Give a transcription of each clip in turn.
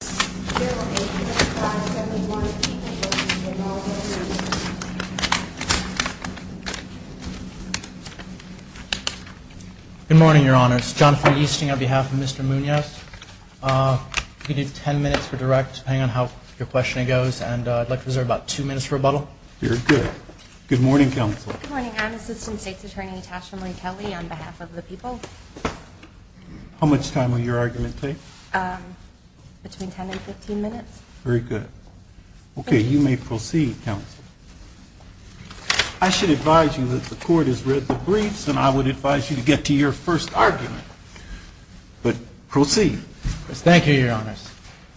Good morning, Your Honor. It's Jonathan Easting on behalf of Mr. Munoz. You can do ten minutes for direct, depending on how your questioning goes, and I'd like to reserve about two minutes for rebuttal. Very good. Good morning, Counsel. Good morning. I'm Assistant State's Attorney Tasha Marie Kelly on behalf of the people. How much time will your argument take? Between ten and fifteen minutes. Very good. Okay, you may proceed, Counsel. I should advise you that the Court has read the briefs, and I would advise you to get to your first argument. But proceed. Thank you, Your Honors.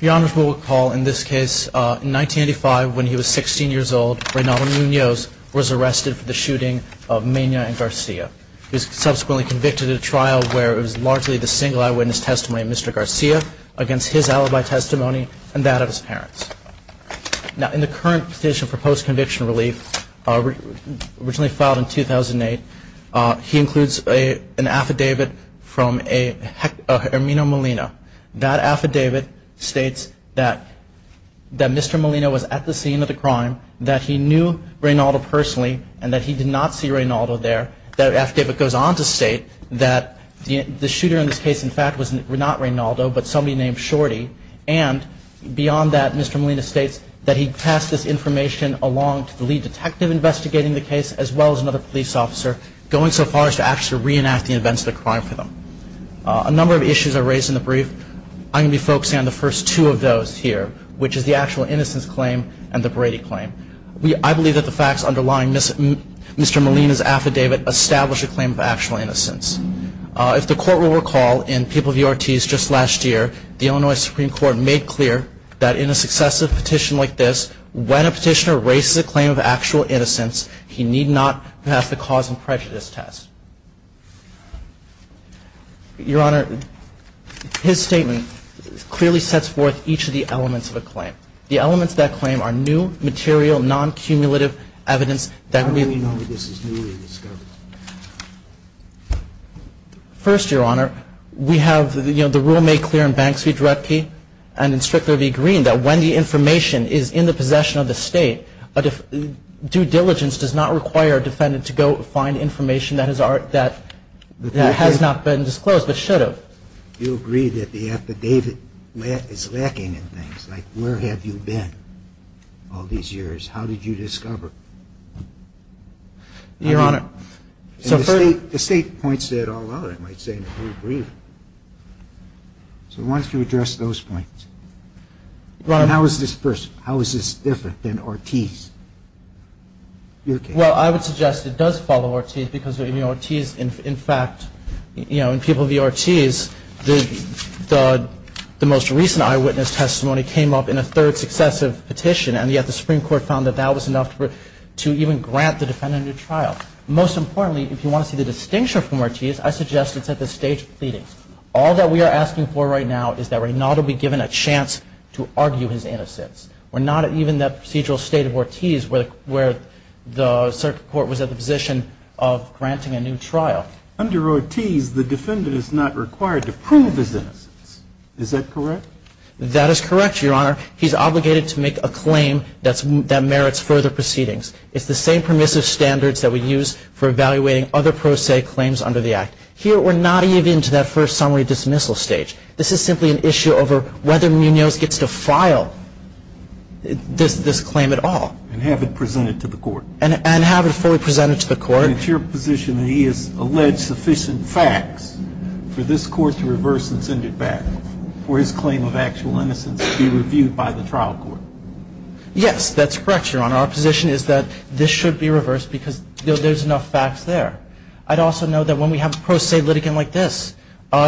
Your Honors, we'll recall in this case, in 1985 when he was sixteen years old, Reynaldo Munoz was arrested for the shooting of Mena and Garcia. He was subsequently convicted in a trial where it was largely the single eyewitness testimony of Mr. Garcia against his alibi testimony and that of his parents. Now in the current petition for post-conviction relief, originally filed in 2008, he includes an affidavit from a Hermino Molina. That affidavit states that Mr. Molina was at the scene of the crime, that he knew Reynaldo personally, and that he did not see Reynaldo there. That the shooter in this case, in fact, was not Reynaldo, but somebody named Shorty. And beyond that, Mr. Molina states that he passed this information along to the lead detective investigating the case, as well as another police officer, going so far as to actually reenact the events of the crime for them. A number of issues are raised in the brief. I'm going to be focusing on the first two of those here, which is the actual innocence claim and the Brady claim. I believe that the facts underlying Mr. Molina's affidavit establish a claim of actual innocence. If the Court will recall, in People v. Ortiz just last year, the Illinois Supreme Court made clear that in a successive petition like this, when a petitioner raises a claim of actual innocence, he need not pass the cause and prejudice test. Your Honor, his statement clearly sets forth each of the elements of a claim. The elements of that claim are new, material, non-cumulative evidence that may be found. How do we know this is newly discovered? First, Your Honor, we have, you know, the rule made clear in Banks v. Drutke and in Strickler v. Green that when the information is in the possession of the State, due diligence does not require a defendant to go find information that has not been disclosed, but should have. You agree that the affidavit is lacking in things. Like, where have you been all these years? How did you discover? Your Honor, so first The State points that all out, I might say, in the whole brief. So why don't you address those points? Your Honor And how is this different than Ortiz? Well, I would suggest it does follow Ortiz because in Ortiz, in fact, you know, in People v. Ortiz, the most recent eyewitness testimony came up in a third successive petition, and yet the Supreme Court found that that was enough to even grant the defendant a trial. Most importantly, if you want to see the distinction from Ortiz, I suggest it's at the State's pleading. All that we are asking for right now is that Raynaldo be given a chance to argue his innocence. We're not even in that procedural state of Ortiz where the Circuit Court was at the position of granting a new trial. Under Ortiz, the defendant is not required to prove his innocence. Is that correct? That is correct, Your Honor. He's obligated to make a claim that merits further proceedings. It's the same permissive standards that we use for evaluating other pro se claims under the Act. Here, we're not even into that first summary dismissal stage. This is simply an issue over whether Munoz gets to file this claim at all. And have it presented to the Court. And have it fully presented to the Court. And it's your position that he has alleged sufficient facts for this Court to reverse and send it back, for his claim of actual innocence to be reviewed by the trial court? Yes, that's correct, Your Honor. Our position is that this should be reversed because there's enough facts there. I'd also note that when we have a pro se litigant like this,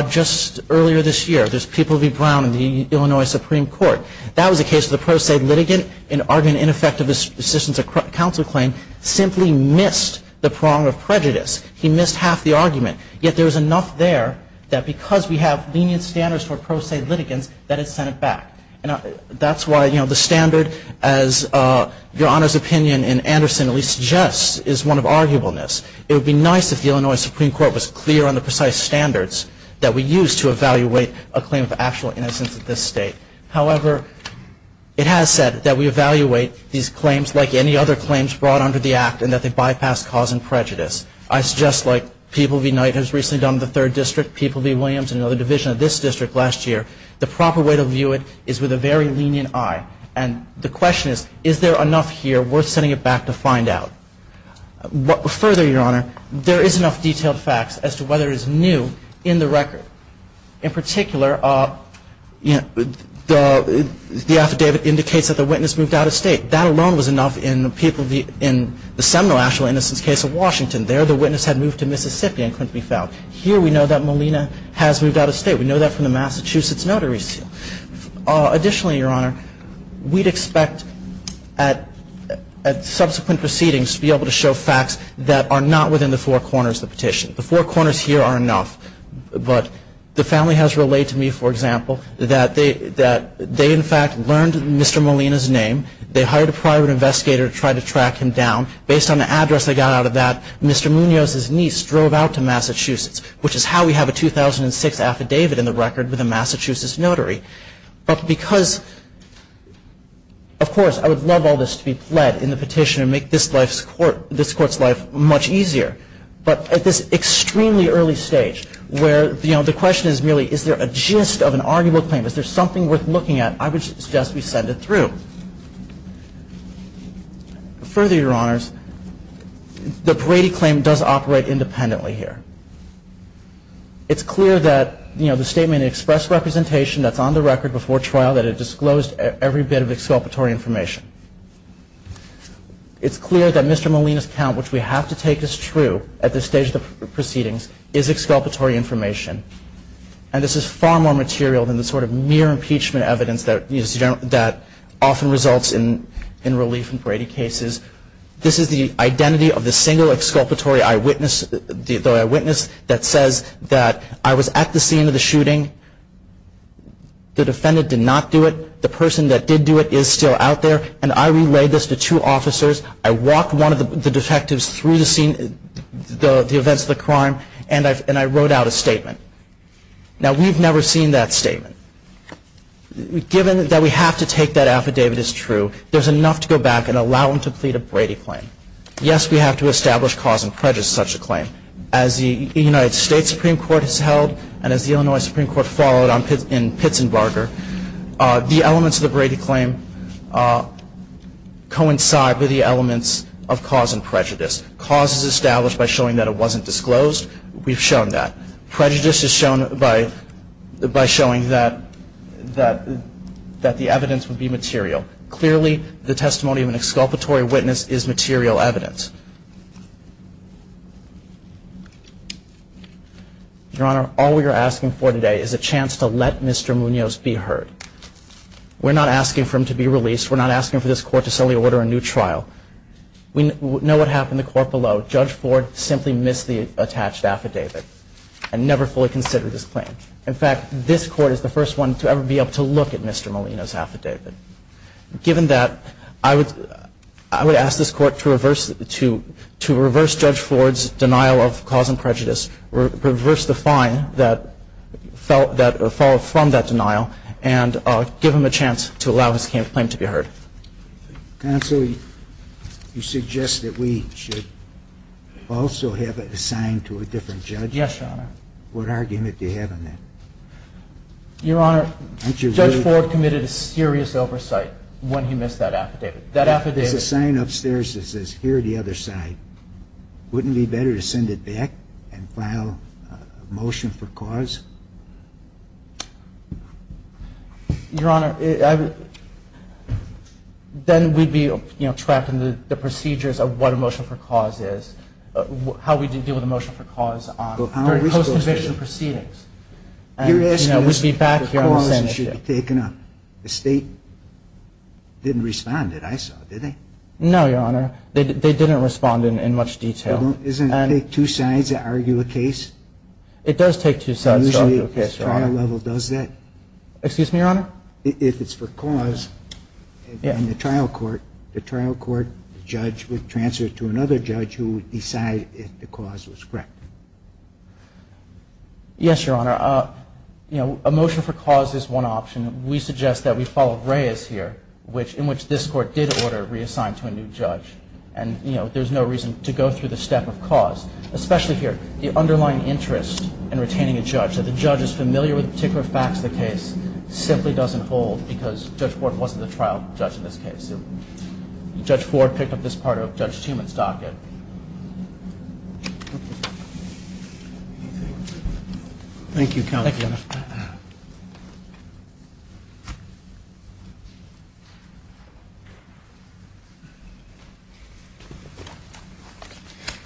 just earlier this year, there's People v. Brown in the Illinois Supreme Court. That was a case of the pro se litigant in arguing an ineffective assistance of counsel claim simply because he missed the prong of prejudice. He missed half the argument. Yet there's enough there that because we have lenient standards for pro se litigants, that it's sent it back. And that's why, you know, the standard, as Your Honor's opinion in Anderson at least suggests, is one of arguableness. It would be nice if the Illinois Supreme Court was clear on the precise standards that we use to evaluate a claim of actual innocence at this State. However, it has said that we evaluate these claims like any other claims brought under the Act and that they bypass cause and prejudice. I suggest, like People v. Knight has recently done in the third district, People v. Williams and another division of this district last year, the proper way to view it is with a very lenient eye. And the question is, is there enough here worth sending it back to find out? Further, Your Honor, there is enough detailed facts as to whether it's new in the record. In particular, the affidavit indicates that the witness moved out of State. That alone was enough in the People v. – in the seminal actual innocence case of Washington. There, the witness had moved to Mississippi and couldn't be found. Here, we know that Molina has moved out of State. We know that from the Massachusetts notary seal. Additionally, Your Honor, we'd expect at subsequent proceedings to be able to show facts that are not within the four corners of the petition. The four corners here are enough. But the family has relayed to me, for example, that they in fact learned Mr. Molina's name. They hired a private investigator to try to track him down. Based on the address they got out of that, Mr. Munoz's niece drove out to Massachusetts, which is how we have a 2006 affidavit in the record with a Massachusetts notary. But because – of course, I would love all this to be pled in the petition and make this life's court – this court's life much easier. But at this extremely early stage where, you know, the question is merely, is there a gist of an arguable claim? Is there something worth looking at? I would suggest we send it through. Further, Your Honors, the Brady claim does operate independently here. It's clear that, you know, the statement expressed representation that's on the record before trial that it disclosed every bit of exculpatory information. It's clear that Mr. Molina's count, which we have to take as true at this stage of the proceedings, is exculpatory information. And this is far more material than the sort of mere impeachment evidence that often results in relief in Brady cases. This is the identity of the single exculpatory eyewitness that says that I was at the scene of the shooting. The defendant did not do it. The person that did do it is still out there. And I relayed this to two officers. I walked one of the Now, we've never seen that statement. Given that we have to take that affidavit as true, there's enough to go back and allow them to plead a Brady claim. Yes, we have to establish cause and prejudice in such a claim. As the United States Supreme Court has held and as the Illinois Supreme Court followed in Pitzenbarger, the elements of the Brady claim coincide with the elements of cause and prejudice. Cause is established by showing that it wasn't just shown by showing that the evidence would be material. Clearly the testimony of an exculpatory witness is material evidence. Your Honor, all we are asking for today is a chance to let Mr. Munoz be heard. We're not asking for him to be released. We're not asking for this court to suddenly order a new trial. We know what happened in the court below. Judge Ford simply missed the attached affidavit and never fully considered this claim. In fact, this Court is the first one to ever be able to look at Mr. Munoz's affidavit. Given that, I would ask this Court to reverse Judge Ford's denial of cause and prejudice, reverse the fine that followed from that denial, and give him a chance to allow his claim to be heard. Counsel, you suggest that we should also have it assigned to a different judge? Yes, Your Honor. What argument do you have on that? Your Honor, Judge Ford committed a serious oversight when he missed that affidavit. That affidavit. There's a sign upstairs that says, here are the other side. Wouldn't it be better to send it back and file a motion for cause? Your Honor, then we'd be trapped in the procedures of what a motion for cause is, how we deal with a motion for cause during post-conviction proceedings. You're asking us if the cause should be taken up. The state didn't respond, I saw it, did they? No, Your Honor. They didn't respond in much detail. Doesn't it take two sides to argue a case? It does take two sides. Excuse me, Your Honor? If it's for cause, in the trial court, the trial court judge would transfer it to another judge who would decide if the cause was correct. Yes, Your Honor. A motion for cause is one option. We suggest that we follow Reyes here, in which this Court did order it reassigned to a new judge. And there's no reason to go through the step of cause, especially here. The underlying interest in retaining a judge, that the judge is familiar with the particular facts of the case, simply doesn't hold because Judge Ford wasn't the trial judge in this case. Judge Ford picked up this part of Judge Tuman's docket. Thank you, Counsel. Thank you, Your Honor.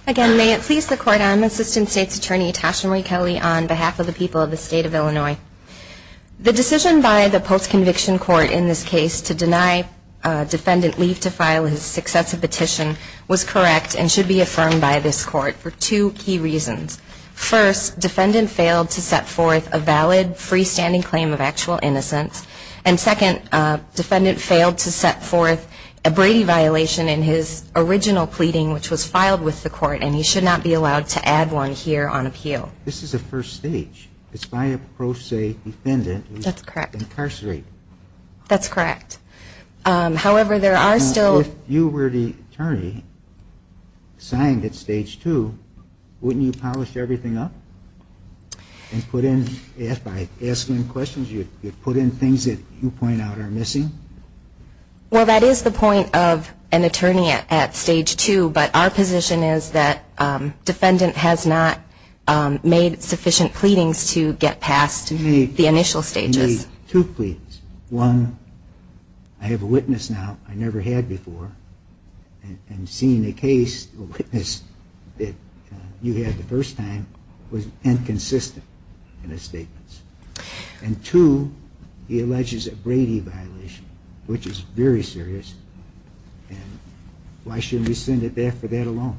Again, may it please the Court, I'm Assistant State's Attorney Tasha Marie Kelly on behalf of the people of the State of Illinois. The decision by the post-conviction court in this case to deny a defendant leave to file his successive petition was correct and should be affirmed by this Court for two key reasons. First, defendant failed to set forth a valid freestanding claim in the case. And second, defendant failed to set forth a Brady violation in his original pleading, which was filed with the Court, and he should not be allowed to add one here on appeal. This is a first stage. It's by a pro se defendant who's incarcerated. That's correct. However, there are still If you were the attorney assigned at stage two, wouldn't you polish everything up and put in, by asking questions, you'd put in things that you point out are missing? Well, that is the point of an attorney at stage two, but our position is that defendant has not made sufficient pleadings to get past the initial stages. You made two pleadings. One, I have a witness now I never had before, and seeing a case, a witness that you had the first time was inconsistent in his statements. And two, he alleges a Brady violation, which is very serious, and why shouldn't we send it back for that alone?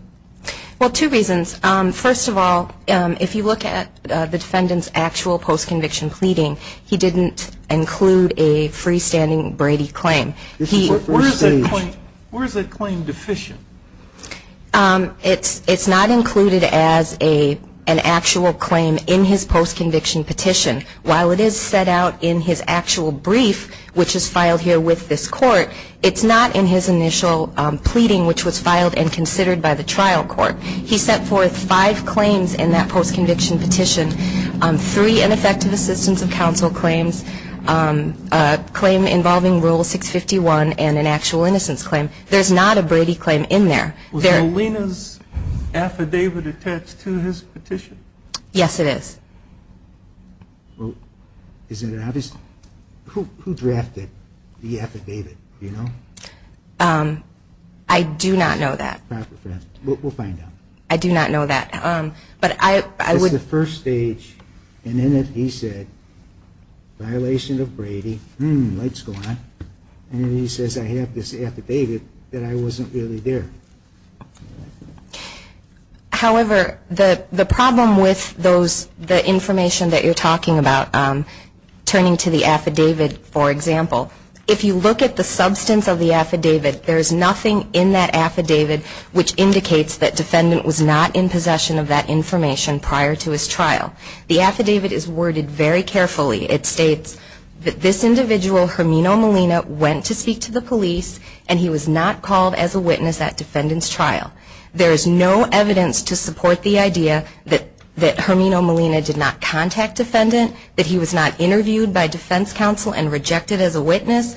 Well, two reasons. First of all, if you look at the defendant's actual post-conviction pleading, he didn't include a freestanding Brady claim. This is a first stage. Where is that claim deficient? It's not included as an actual claim in his post-conviction petition. While it is set out in his actual brief, which is filed here with this court, it's not in his initial pleading, which was filed and considered by the trial court. He set forth five claims in that post-conviction petition, three ineffective assistance of counsel claims, a claim involving Rule 651, and an actual innocence claim. There's not a Brady claim in there. Was Molina's affidavit attached to his petition? Yes, it is. Well, isn't it obvious? Who drafted the affidavit, do you know? I do not know that. We'll find out. I do not know that. But I would However, the problem with those, the information that you're talking about, turning to the affidavit, for example, if you look at the substance of the affidavit, there's nothing in that affidavit which indicates that the defendant was not in possession of that information prior to his conviction. The affidavit is worded very carefully. It states that this individual, Hermino Molina, went to speak to the police and he was not called as a witness at defendant's trial. There is no evidence to support the idea that Hermino Molina did not contact defendant, that he was not interviewed by defense counsel and rejected as a witness,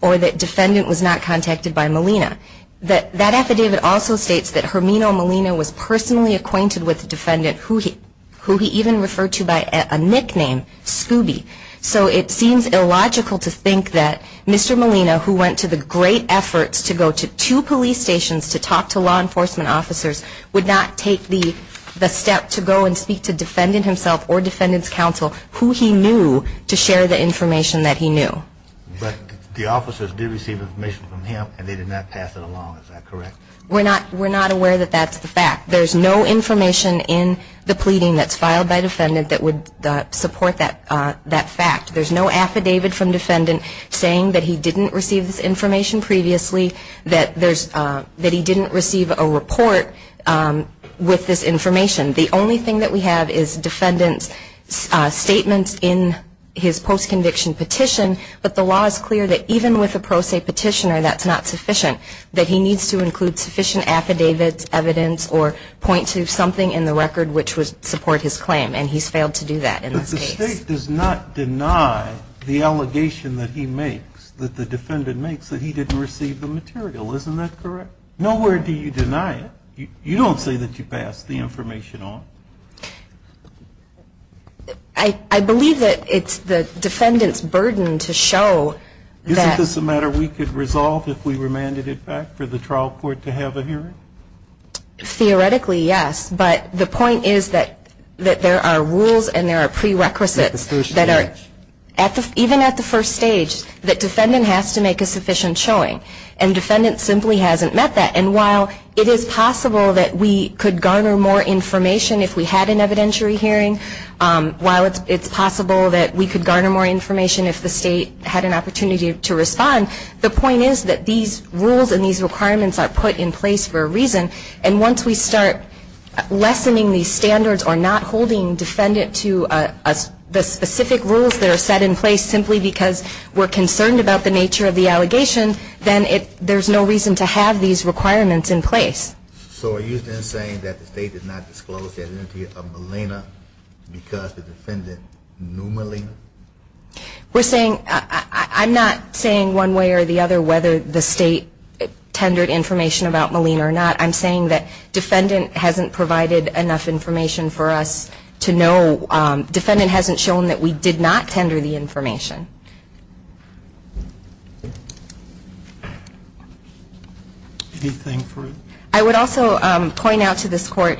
or that defendant was not contacted by Molina. That affidavit also states that Hermino Molina was personally acquainted with the defendant, who he even referred to by a nickname, Scooby. So it seems illogical to think that Mr. Molina, who went to the great efforts to go to two police stations to talk to law enforcement officers, would not take the step to go and speak to defendant himself or defendant's counsel, who he knew, to share the information that he knew. But the officers did receive information from him and they did not pass it along. Is that correct? We're not aware that that's the fact. There's no information in the pleading that's filed by defendant that would support that fact. There's no affidavit from defendant saying that he didn't receive this information previously, that he didn't receive a report with this information. The only thing that we have is defendant's statements in his post-conviction petition, but the law is clear that even with a pro se petitioner, that's not sufficient, that he needs to include sufficient affidavits, evidence, or point to something in the record which would support his claim. And he's failed to do that in this case. But the state does not deny the allegation that he makes, that the defendant makes, that he didn't receive the material. Isn't that correct? Nowhere do you deny it. You don't say that you passed the information on. I believe that it's the defendant's burden to show that... Isn't this a matter we could resolve if we remanded it back for the trial court to have a hearing? Theoretically, yes. But the point is that there are rules and there are prerequisites that are... At the first stage. Even at the first stage, the defendant has to make a sufficient showing. And defendant simply hasn't met that. And while it is possible that we could garner more information if we had an evidentiary hearing, while it's possible that we could garner more information if the state had an opportunity to respond, the point is that these rules and these requirements are put in place for a reason. And once we start lessening these standards or not holding defendant to the specific rules that are set in place, simply because we're concerned about the nature of the allegation, then there's no reason to have these requirements in place. So are you then saying that the state did not disclose the identity of Malina because the defendant knew Malina? We're saying... I'm not saying one way or the other whether the state tendered information about Malina or not. I'm saying that defendant hasn't provided enough information for us to know... ...that the state has not provided enough information. I would also point out to this Court,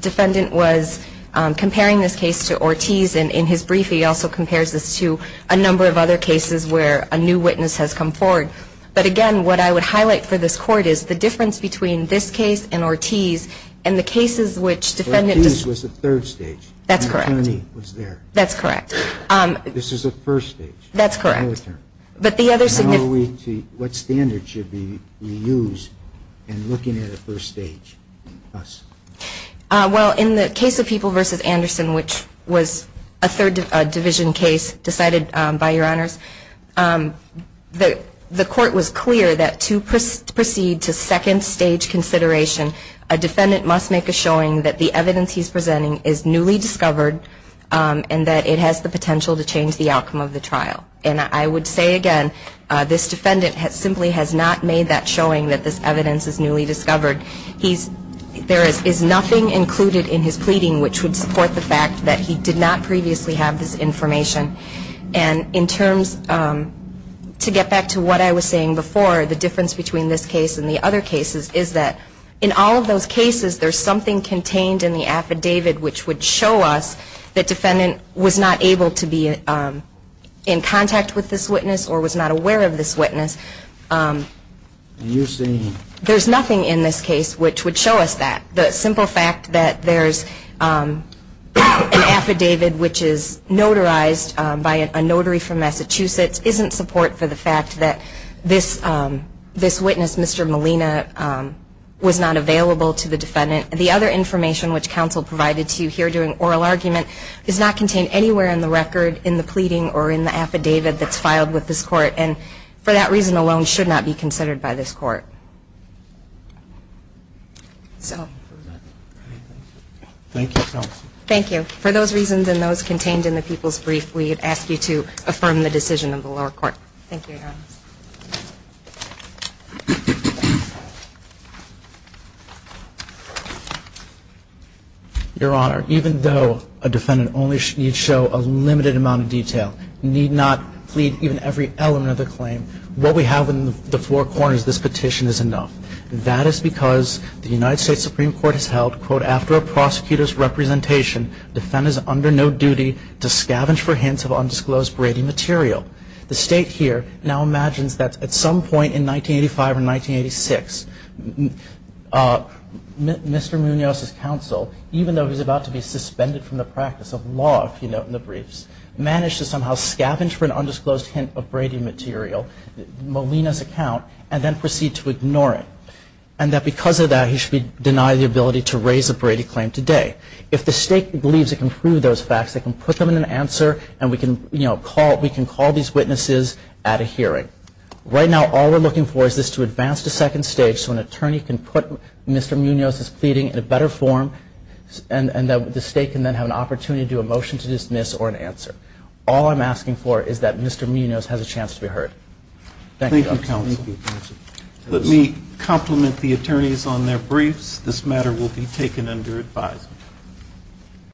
defendant was comparing this case to Ortiz. And in his brief, he also compares this to a number of other cases where a new witness has come forward. But again, what I would highlight for this Court is the difference between this case and Ortiz and the cases which defendant... Ortiz was at third stage. That's correct. Malina was there. That's correct. This is at first stage. That's correct. But the other significant... What standards should we use in looking at a first stage? Well, in the case of People v. Anderson, which was a third division case decided by Your Honors, the Court was clear that to proceed to second stage consideration, a defendant must make a showing that the evidence he's presenting is newly discovered and that it has the potential to change the outcome of the trial. And I would say again, this defendant simply has not made that showing that this evidence is newly discovered. There is nothing included in his pleading which would support the fact that he did not previously have this information. And in terms... To get back to what I was saying before, the difference between this case and the other cases is that in all of those cases, there's something contained in the affidavit which would show us that defendant was not able to be in contact with this witness or was not aware of this witness. You're saying... There's nothing in this case which would show us that. The simple fact that there's an affidavit which is notarized by a notary from Massachusetts isn't support for the fact that this witness, Mr. Molina, was not available to the defendant. The other information which counsel provided to you here during oral argument does not contain anywhere in the record in the pleading or in the affidavit that's filed with this court and for that reason alone should not be considered by this court. So... Thank you, counsel. Thank you. For those reasons and those contained in the people's brief, we ask you to affirm the decision of the lower court. Thank you, Your Honor. Your Honor, even though a defendant only needs to show a limited amount of detail, need not plead even every element of the claim, what we have in the four corners of this petition is enough. That is because the United States Supreme Court has held, quote, after a prosecutor's representation, defendants are under no duty to scavenge for hints of undisclosed Brady material. The state here now imagines that at some point in 1985 or 1986, Mr. Munoz's counsel, even though he's about to be suspended from the practice of law, if you note in the briefs, managed to somehow scavenge for an undisclosed hint of Brady material, Molina's account, and then proceed to ignore it. And that because of that, he should be denied the ability to raise a Brady claim today. If the state believes it can prove those facts, it can put them in an answer and we can call these witnesses at a hearing. Right now, all we're looking for is this to advance to second stage so an attorney can put Mr. Munoz's pleading in a better form and the state can then have an opportunity to do a motion to dismiss or an answer. All I'm asking for is that Mr. Munoz has a chance to be heard. Thank you, counsel. Thank you, counsel. Let me compliment the attorneys on their briefs. This matter will be taken under advisement.